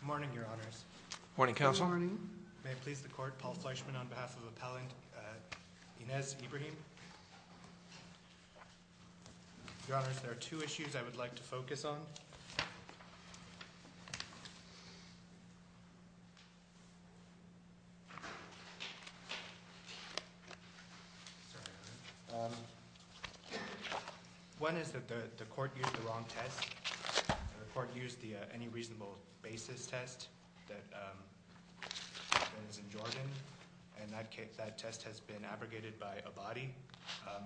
Good morning Your Honours. Good morning. May it please the Court, Paul Fleischman on behalf of Appellant Ines Ibrahim. Your Honours, there are two issues I would like to focus on. One is that the Court used the wrong test. The Court used the Any Reasonable Basis test that is in Jordan. And that test has been abrogated by Abadi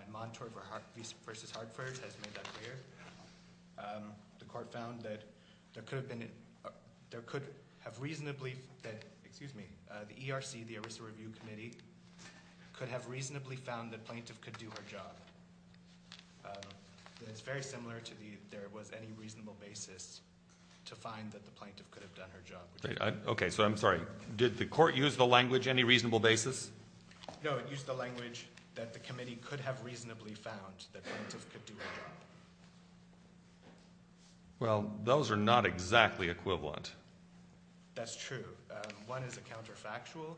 and Montour v. Hartford has made that clear. The Court found that the ERC, the ERISA Review Committee, could have reasonably found that Plaintiff could do her job. It's very similar to the There Was Any Reasonable Basis to find that the Plaintiff could have done her job. Okay, so I'm sorry. Did the Court use the language Any Reasonable Basis? No, it used the language that the Committee could have reasonably found that Plaintiff could do her job. Well, those are not exactly equivalent. That's true. One is a counterfactual,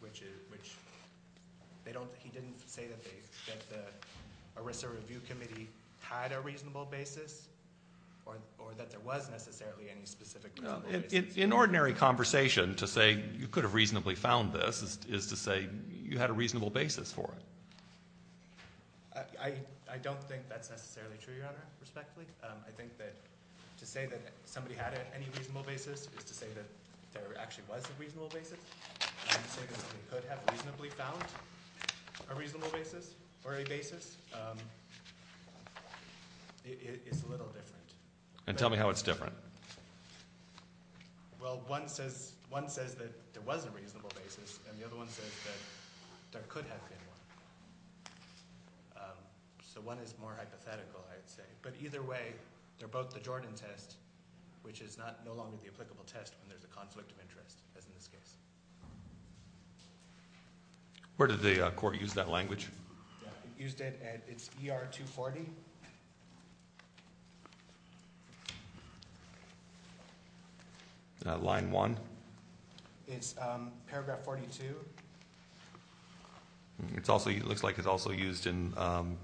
which they don't, he didn't say that the ERISA Review Committee had a reasonable basis or that there was necessarily any specific reasonable basis. In ordinary conversation, to say you could have reasonably found this is to say you had a reasonable basis for it. I don't think that's necessarily true, Your Honor, respectfully. I think that to say that somebody had any reasonable basis is to say that there actually was a reasonable basis. To say that somebody could have reasonably found a reasonable basis or a basis is a little different. And tell me how it's different. Well, one says that there was a reasonable basis, and the other one says that there could have been one. So one is more hypothetical, I'd say. But either way, they're both the Jordan test, which is no longer the applicable test when there's a conflict of interest, as in this case. Where did the Court use that language? Used it at, it's ER 240. Line one. It's paragraph 42. It's also, it looks like it's also used in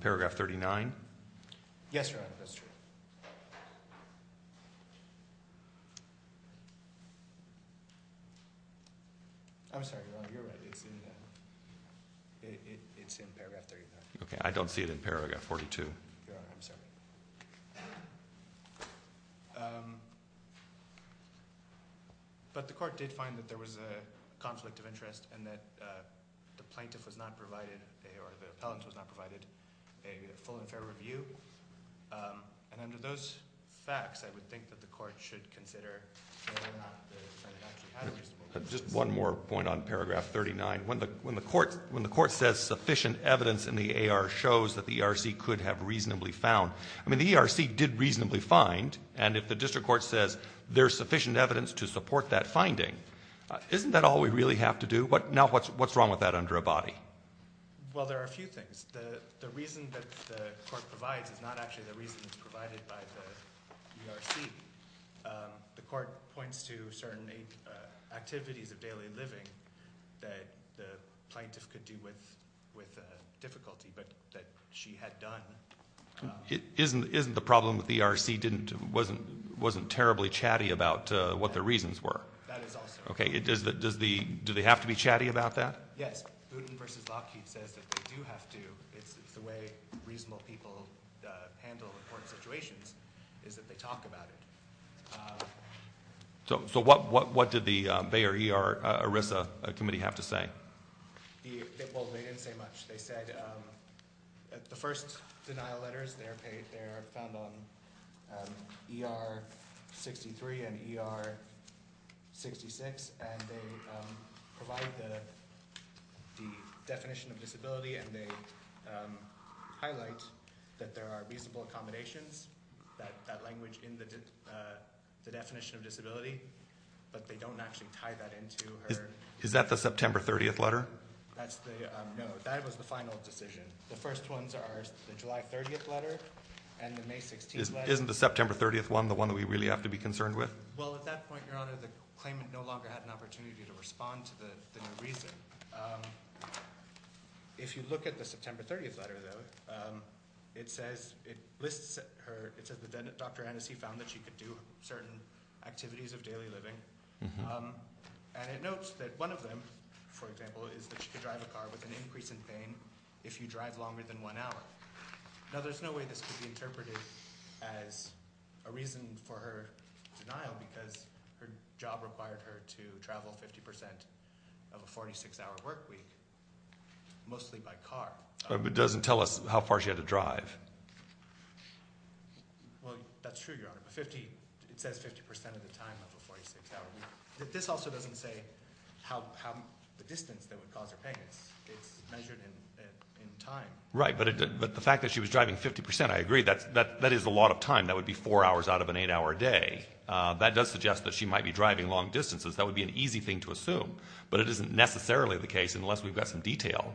paragraph 39. Yes, Your Honor, that's true. I'm sorry, Your Honor, you're right, it's in paragraph 39. Okay, I don't see it in paragraph 42. Your Honor, I'm sorry. But the Court did find that there was a conflict of interest and that the plaintiff was not provided, or the appellant was not provided a full and fair review. And under those facts, I would think that the Court should consider whether or not the defendant actually had a reasonable basis. Just one more point on paragraph 39. When the Court says sufficient evidence in the AR shows that the ERC could have reasonably found, I mean, the ERC did reasonably find. And if the district court says there's sufficient evidence to support that finding, isn't that all we really have to do? Now, what's wrong with that under a body? Well, there are a few things. The reason that the Court provides is not actually the reason that's provided by the ERC. The Court points to certain activities of daily living that the plaintiff could do with difficulty, but that she had done. Isn't the problem that the ERC wasn't terribly chatty about what the reasons were? That is also. Okay, do they have to be chatty about that? Yes, Boone versus Lockheed says that they do have to. It's the way reasonable people handle important situations, is that they talk about it. So what did the Bayer ER ERISA committee have to say? Well, they didn't say much. The first denial letters, they're found on ER 63 and ER 66, and they provide the definition of disability, and they highlight that there are reasonable accommodations, that language in the definition of disability, but they don't actually tie that into her- Is that the September 30th letter? No, that was the final decision. The first ones are the July 30th letter and the May 16th letter. Isn't the September 30th one the one that we really have to be concerned with? Well, at that point, Your Honor, the claimant no longer had an opportunity to respond to the new reason. If you look at the September 30th letter, though, it says that Dr. Annecy found that she could do certain activities of daily living, and it notes that one of them, for example, is that she could drive a car with an increase in pain if you drive longer than one hour. Now, there's no way this could be interpreted as a reason for her denial because her job required her to travel 50% of a 46-hour work week, mostly by car. But it doesn't tell us how far she had to drive. Well, that's true, Your Honor, but it says 50% of the time of a 46-hour work week. This also doesn't say how the distance that would cause her pain. It's measured in time. Right, but the fact that she was driving 50%, I agree, that is a lot of time. That would be four hours out of an eight-hour day. That does suggest that she might be driving long distances. That would be an easy thing to assume, but it isn't necessarily the case unless we've got some detail.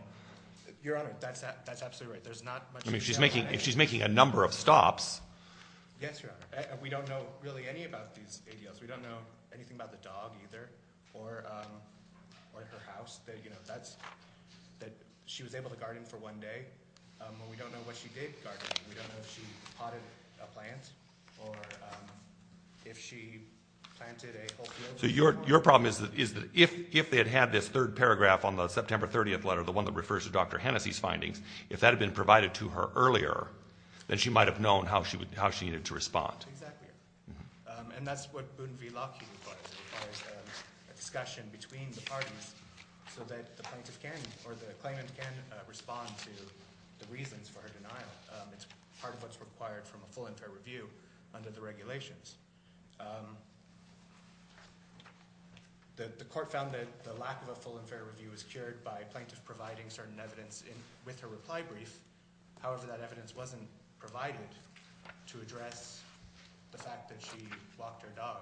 Your Honor, that's absolutely right. If she's making a number of stops. Yes, Your Honor. We don't know really any about these ADLs. We don't know anything about the dog either or her house. She was able to guard him for one day, but we don't know what she did guard him. We don't know if she potted a plant or if she planted a whole field. So your problem is that if they had had this third paragraph on the September 30th letter, the one that refers to Dr. Hennessey's findings, if that had been provided to her earlier, then she might have known how she needed to respond. Exactly, and that's what Boone v. Lockheed requires. It requires a discussion between the parties so that the plaintiff can or the claimant can respond to the reasons for her denial. It's part of what's required from a full and fair review under the regulations. The court found that the lack of a full and fair review was cured by a plaintiff providing certain evidence with her reply brief. However, that evidence wasn't provided to address the fact that she walked her dog.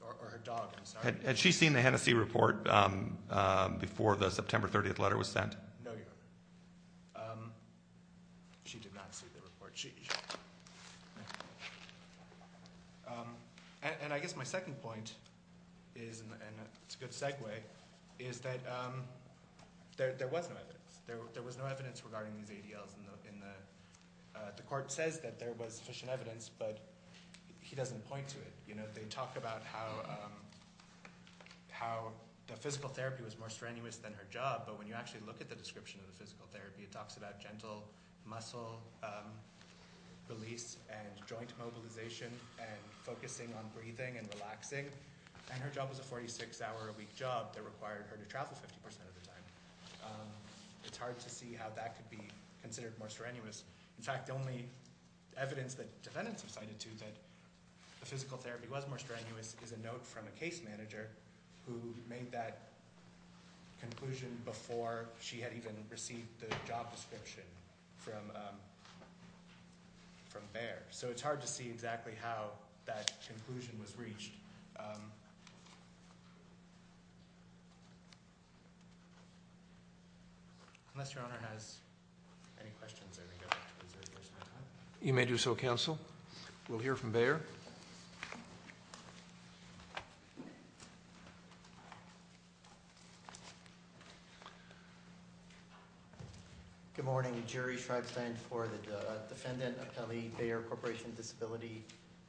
Or her dog, I'm sorry. Had she seen the Hennessey report before the September 30th letter was sent? No, Your Honor. She did not see the report. And I guess my second point, and it's a good segue, is that there was no evidence. There was no evidence regarding these ADLs. The court says that there was sufficient evidence, but he doesn't point to it. They talk about how the physical therapy was more strenuous than her job, but when you actually look at the description of the physical therapy, it talks about gentle muscle release and joint mobilization and focusing on breathing and relaxing, and her job was a 46-hour-a-week job that required her to travel 50% of the time. It's hard to see how that could be considered more strenuous. In fact, the only evidence that defendants have cited to that the physical therapy was more strenuous is a note from a case manager who made that conclusion before she had even received the job description from Bayer. So it's hard to see exactly how that conclusion was reached. Unless Your Honor has any questions, I think I'm going to reserve the rest of my time. You may do so, counsel. We'll hear from Bayer. Good morning. Jerry Schreibstein for the Defendant Appellee Bayer Corporation Disability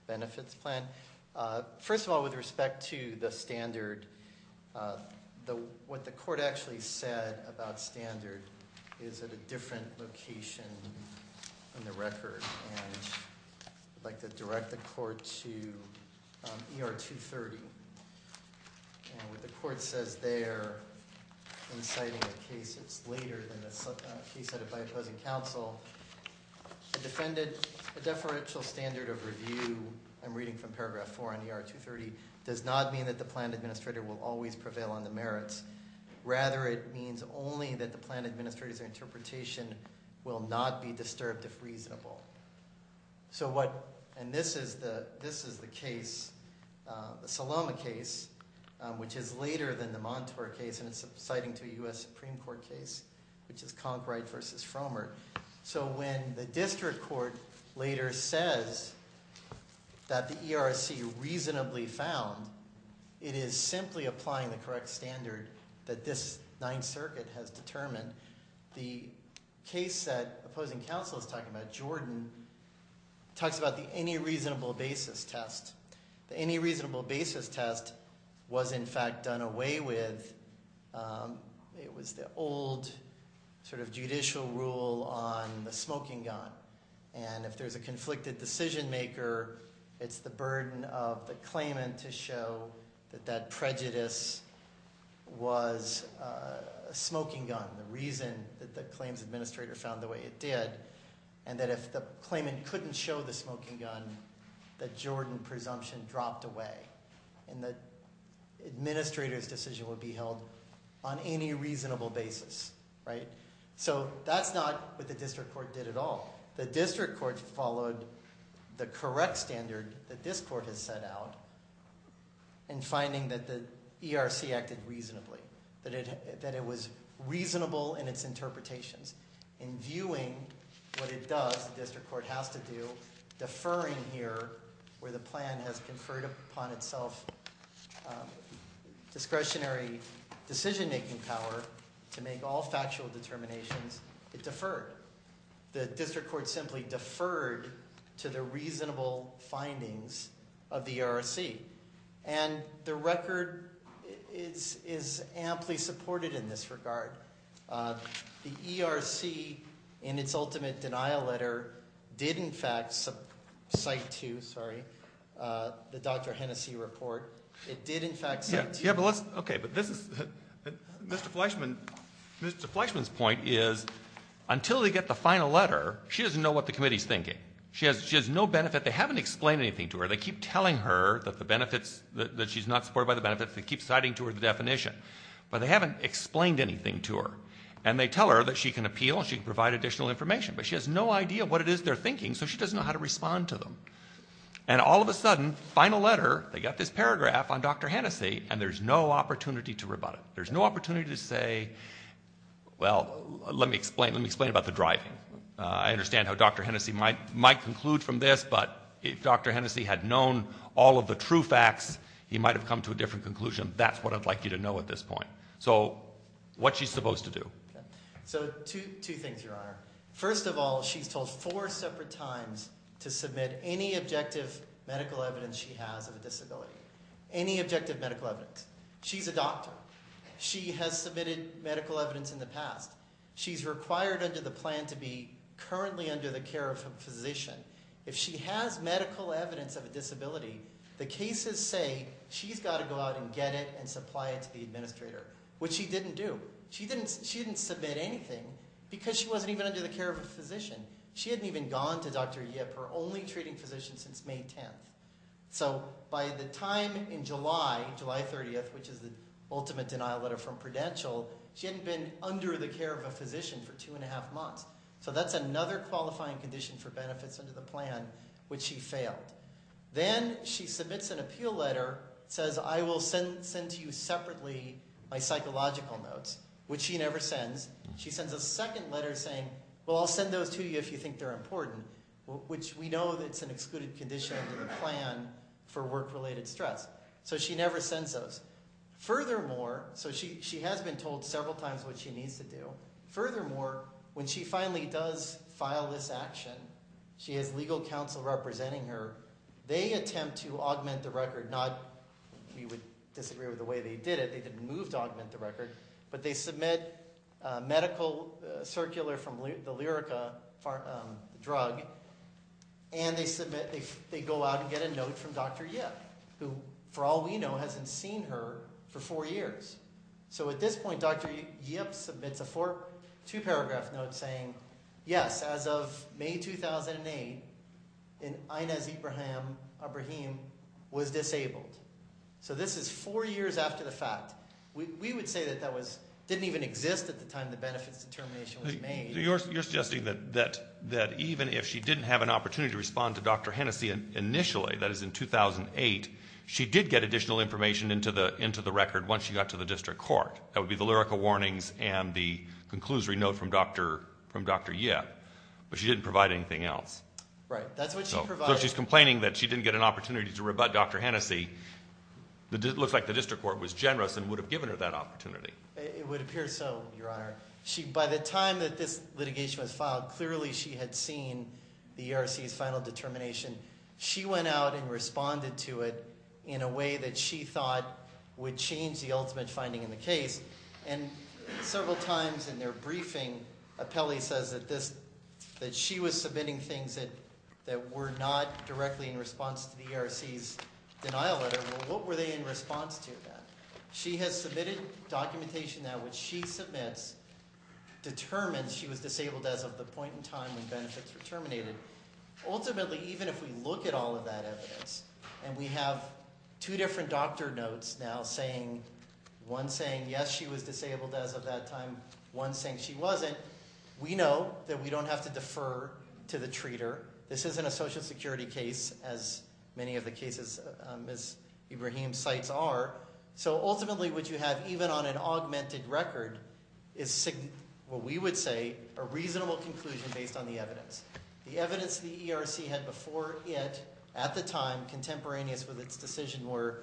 Benefits Plan. First of all, with respect to the standard, what the court actually said about standard is at a different location on the record, and I'd like to direct the court to ER 230. What the court says there, inciting a case that's later than the case set by opposing counsel, the defendant's deferential standard of review, I'm reading from paragraph 4 on ER 230, does not mean that the plan administrator will always prevail on the merits. Rather, it means only that the plan administrator's interpretation will not be disturbed if reasonable. And this is the case, the Saloma case, which is later than the Montour case, and it's citing to a U.S. Supreme Court case, which is Conkright v. Frommer. So when the district court later says that the ERC reasonably found, it is simply applying the correct standard that this Ninth Circuit has determined. The case set opposing counsel is talking about, Jordan, talks about the any reasonable basis test. The any reasonable basis test was, in fact, done away with. It was the old sort of judicial rule on the smoking gun, and if there's a conflicted decision maker, it's the burden of the claimant to show that that prejudice was a smoking gun, the reason that the claims administrator found the way it did, and that if the claimant couldn't show the smoking gun, the Jordan presumption dropped away, and the administrator's decision would be held on any reasonable basis, right? So that's not what the district court did at all. The district court followed the correct standard that this court has set out in finding that the ERC acted reasonably, that it was reasonable in its interpretations. In viewing what it does, the district court has to do deferring here, where the plan has conferred upon itself discretionary decision-making power to make all factual determinations, it deferred. The district court simply deferred to the reasonable findings of the ERC, and the record is amply supported in this regard. The ERC, in its ultimate denial letter, did in fact cite to, sorry, the Dr. Hennessy report, it did in fact cite to. Yeah, but let's, okay, but this is, Mr. Fleischman, Mr. Fleischman's point is until they get the final letter, she doesn't know what the committee's thinking. She has no benefit, they haven't explained anything to her, they keep telling her that the benefits, that she's not supported by the benefits, they keep citing to her the definition, but they haven't explained anything to her, and they tell her that she can appeal and she can provide additional information, but she has no idea what it is they're thinking, so she doesn't know how to respond to them. And all of a sudden, final letter, they got this paragraph on Dr. Hennessy, and there's no opportunity to rebut it. There's no opportunity to say, well, let me explain about the driving. I understand how Dr. Hennessy might conclude from this, but if Dr. Hennessy had known all of the true facts, he might have come to a different conclusion. That's what I'd like you to know at this point. So what's she supposed to do? So two things, Your Honor. First of all, she's told four separate times to submit any objective medical evidence she has of a disability, any objective medical evidence. She's a doctor. She has submitted medical evidence in the past. She's required under the plan to be currently under the care of a physician. If she has medical evidence of a disability, the cases say she's got to go out and get it and supply it to the administrator, which she didn't do. She didn't submit anything because she wasn't even under the care of a physician. She hadn't even gone to Dr. Yip, her only treating physician, since May 10th. So by the time in July, July 30th, which is the ultimate denial letter from Prudential, she hadn't been under the care of a physician for two and a half months. So that's another qualifying condition for benefits under the plan, which she failed. Then she submits an appeal letter. It says, I will send to you separately my psychological notes, which she never sends. She sends a second letter saying, well, I'll send those to you if you think they're important, which we know that's an excluded condition under the plan for work-related stress. So she never sends those. Furthermore, so she has been told several times what she needs to do. Furthermore, when she finally does file this action, she has legal counsel representing her. They attempt to augment the record. We would disagree with the way they did it. They didn't move to augment the record. But they submit a medical circular from the Lyrica drug, and they go out and get a note from Dr. Yip, who, for all we know, hasn't seen her for four years. So at this point, Dr. Yip submits a two-paragraph note saying, yes, as of May 2008, Inez Ibrahim was disabled. So this is four years after the fact. We would say that that didn't even exist at the time the benefits determination was made. You're suggesting that even if she didn't have an opportunity to respond to Dr. Hennessy initially, that is in 2008, she did get additional information into the record once she got to the district court. That would be the Lyrica warnings and the conclusory note from Dr. Yip. But she didn't provide anything else. So she's complaining that she didn't get an opportunity to rebut Dr. Hennessy. It looks like the district court was generous and would have given her that opportunity. It would appear so, Your Honor. By the time that this litigation was filed, clearly she had seen the ERC's final determination. She went out and responded to it in a way that she thought would change the ultimate finding in the case. And several times in their briefing, Apelli says that she was submitting things that were not directly in response to the ERC's denial letter. Well, what were they in response to then? She has submitted documentation that when she submits determines she was disabled as of the point in time when benefits were terminated. Ultimately, even if we look at all of that evidence and we have two different doctor notes now, one saying yes, she was disabled as of that time, one saying she wasn't, we know that we don't have to defer to the treater. This isn't a Social Security case as many of the cases Ms. Ibrahim cites are. So ultimately what you have, even on an augmented record, is what we would say a reasonable conclusion based on the evidence. The evidence the ERC had before it, at the time, contemporaneous with its decision, were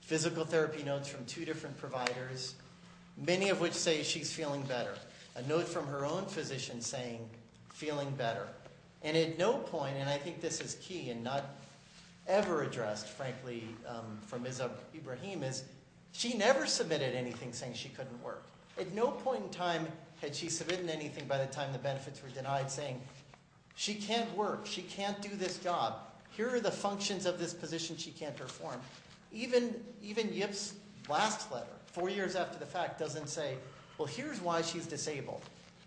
physical therapy notes from two different providers, many of which say she's feeling better. A note from her own physician saying feeling better. And at no point, and I think this is key and not ever addressed, frankly, from Ms. Ibrahim, is she never submitted anything saying she couldn't work. At no point in time had she submitted anything by the time the benefits were denied saying she can't work, she can't do this job, here are the functions of this position she can't perform. Even Yip's last letter, four years after the fact, doesn't say well here's why she's disabled.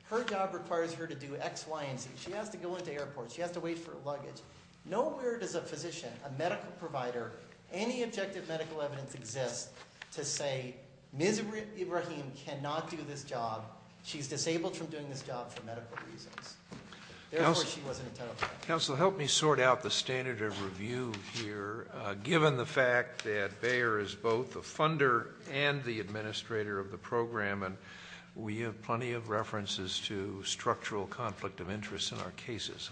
Her job requires her to do X, Y, and Z. She has to go into airports, she has to wait for luggage. Nowhere does a physician, a medical provider, any objective medical evidence exist to say Ms. Ibrahim cannot do this job. She's disabled from doing this job for medical reasons. Therefore, she wasn't entitled to that. Counsel, help me sort out the standard of review here. Given the fact that Bayer is both the funder and the administrator of the program, and we have plenty of references to structural conflict of interest in our cases.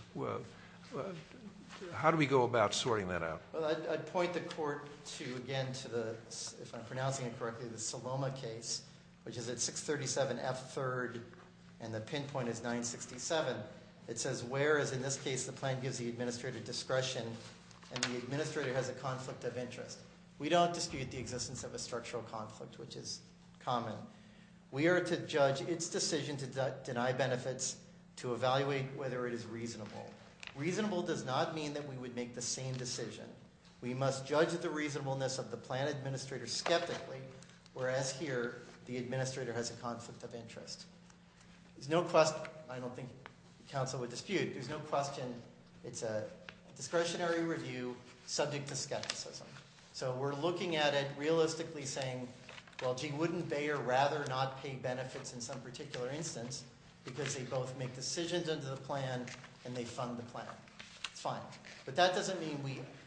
How do we go about sorting that out? Well, I'd point the court to, again, to the, if I'm pronouncing it correctly, the Saloma case, which is at 637 F3rd and the pinpoint is 967. It says where is, in this case, the plan gives the administrator discretion and the administrator has a conflict of interest. We don't dispute the existence of a structural conflict, which is common. We are to judge its decision to deny benefits to evaluate whether it is reasonable. Reasonable does not mean that we would make the same decision. We must judge the reasonableness of the plan administrator skeptically, whereas here the administrator has a conflict of interest. There's no question, I don't think counsel would dispute, there's no question it's a discretionary review subject to skepticism. So we're looking at it realistically saying, well, gee, wouldn't Bayer rather not pay benefits in some particular instance because they both make decisions under the plan and they fund the plan. It's fine. But that doesn't mean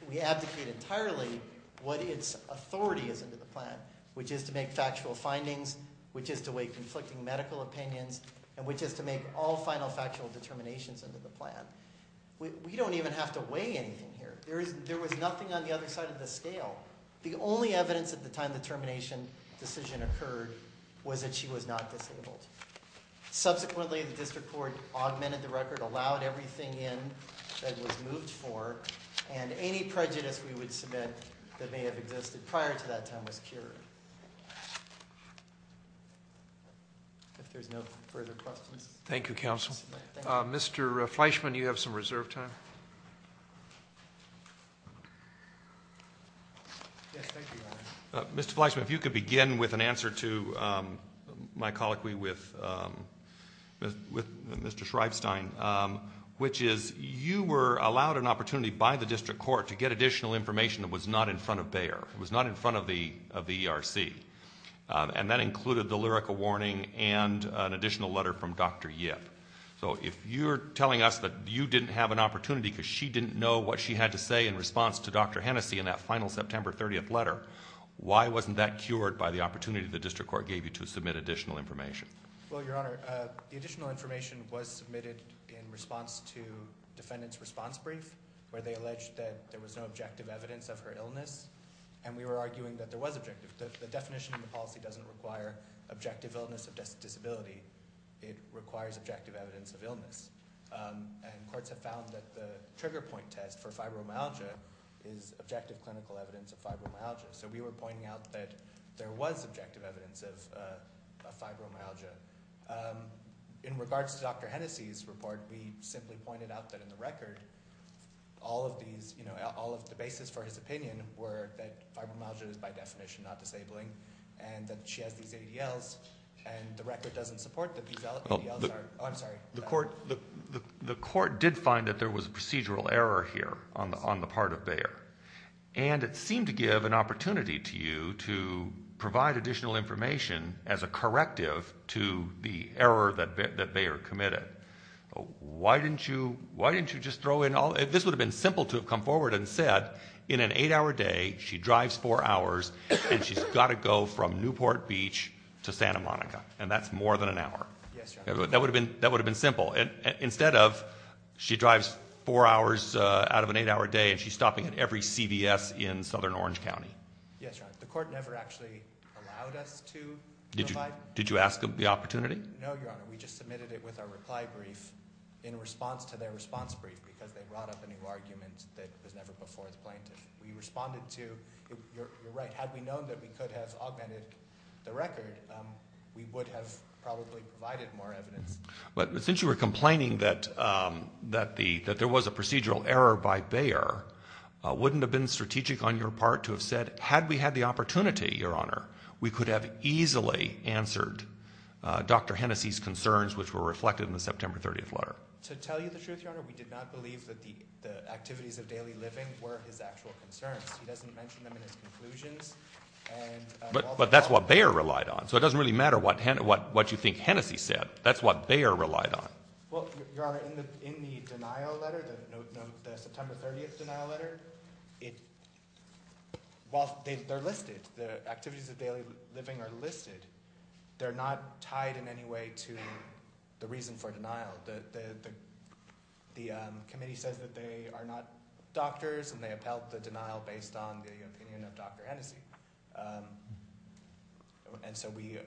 we abdicate entirely what its authority is under the plan, which is to make factual findings, which is to weigh conflicting medical opinions, and which is to make all final factual determinations under the plan. We don't even have to weigh anything here. There was nothing on the other side of the scale. The only evidence at the time the termination decision occurred was that she was not disabled. Subsequently, the district court augmented the record, allowed everything in that was moved for, and any prejudice we would submit that may have existed prior to that time was cured. If there's no further questions. Thank you, counsel. Mr. Fleischman, you have some reserve time. Yes, thank you, Your Honor. Mr. Fleischman, if you could begin with an answer to my colloquy with Mr. Shreifstein, which is you were allowed an opportunity by the district court to get additional information that was not in front of Bayer, was not in front of the ERC, and that included the lyrical warning and an additional letter from Dr. Yip. So if you're telling us that you didn't have an opportunity because she didn't know what she had to say in response to Dr. Hennessy in that final September 30th letter, why wasn't that cured by the opportunity the district court gave you to submit additional information? Well, Your Honor, the additional information was submitted in response to defendant's response brief, where they alleged that there was no objective evidence of her illness, and we were arguing that there was objective. The definition in the policy doesn't require objective illness of disability. It requires objective evidence of illness, and courts have found that the trigger point test for fibromyalgia is objective clinical evidence of fibromyalgia. So we were pointing out that there was objective evidence of fibromyalgia. In regards to Dr. Hennessy's report, we simply pointed out that in the record, all of these, you know, all of the basis for his opinion were that fibromyalgia is by definition not disabling and that she has these ADLs, and the record doesn't support that these ADLs are. Oh, I'm sorry. The court did find that there was a procedural error here on the part of Bayer, and it seemed to give an opportunity to you to provide additional information as a corrective to the error that Bayer committed. Why didn't you just throw in all? If this would have been simple to have come forward and said, in an eight-hour day, she drives four hours, and she's got to go from Newport Beach to Santa Monica, and that's more than an hour. Yes, Your Honor. That would have been simple. Instead of she drives four hours out of an eight-hour day, and she's stopping at every CVS in southern Orange County. Yes, Your Honor. The court never actually allowed us to provide. Did you ask the opportunity? No, Your Honor. We just submitted it with our reply brief in response to their response brief because they brought up a new argument that was never before the plaintiff. We responded to, you're right, had we known that we could have augmented the record, we would have probably provided more evidence. But since you were complaining that there was a procedural error by Bayer, wouldn't it have been strategic on your part to have said, had we had the opportunity, Your Honor, we could have easily answered Dr. Hennessy's concerns, which were reflected in the September 30th letter? To tell you the truth, Your Honor, we did not believe that the activities of daily living were his actual concerns. He doesn't mention them in his conclusions. But that's what Bayer relied on, so it doesn't really matter what you think Hennessy said. That's what Bayer relied on. Well, Your Honor, in the denial letter, the September 30th denial letter, while they're listed, the activities of daily living are listed, they're not tied in any way to the reason for denial. The committee says that they are not doctors, and they upheld the denial based on the opinion of Dr. Hennessy. And so we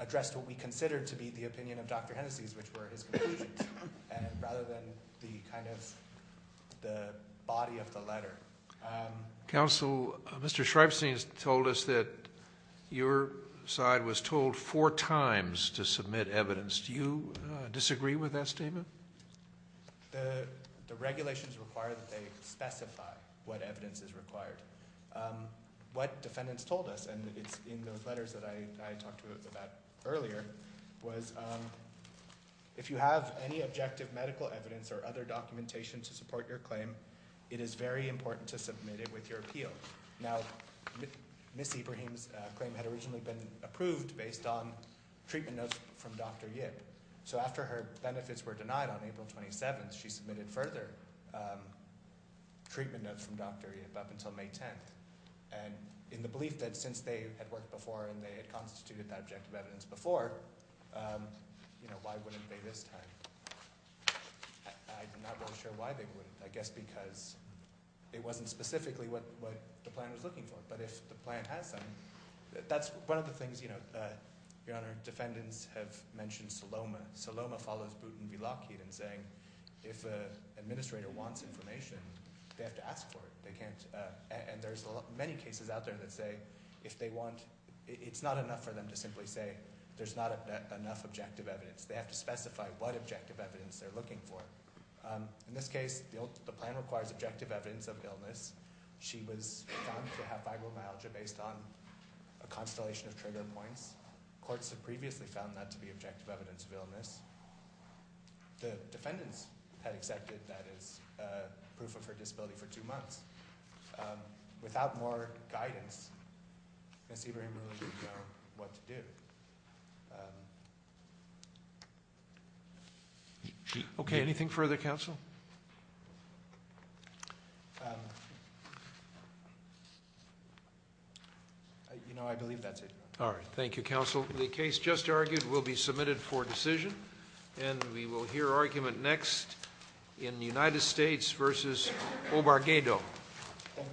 addressed what we considered to be the opinion of Dr. Hennessy's, which were his conclusions, rather than the kind of body of the letter. Counsel, Mr. Shripstein has told us that your side was told four times to submit evidence. Do you disagree with that statement? The regulations require that they specify what evidence is required. What defendants told us, and it's in those letters that I talked about earlier, was if you have any objective medical evidence or other documentation to support your claim, it is very important to submit it with your appeal. Now, Ms. Ibrahim's claim had originally been approved based on treatment notes from Dr. Yip. So after her benefits were denied on April 27th, she submitted further treatment notes from Dr. Yip up until May 10th. And in the belief that since they had worked before and they had constituted that objective evidence before, you know, why wouldn't they this time? I'm not really sure why they wouldn't. I guess because it wasn't specifically what the plan was looking for. But if the plan has something, that's one of the things, you know, Your Honor, defendants have mentioned Saloma. Saloma follows Butten v. Lockheed in saying if an administrator wants information, they have to ask for it. They can't – and there's many cases out there that say if they want – it's not enough for them to simply say there's not enough objective evidence. They have to specify what objective evidence they're looking for. In this case, the plan requires objective evidence of illness. She was found to have fibromyalgia based on a constellation of trigger points. Courts had previously found that to be objective evidence of illness. The defendants had accepted that as proof of her disability for two months. Without more guidance, Ms. Ibrahim really didn't know what to do. Okay. Anything further, counsel? You know, I believe that's it. All right. Thank you, counsel. The case just argued will be submitted for decision. And we will hear argument next in United States v. Obarguedo.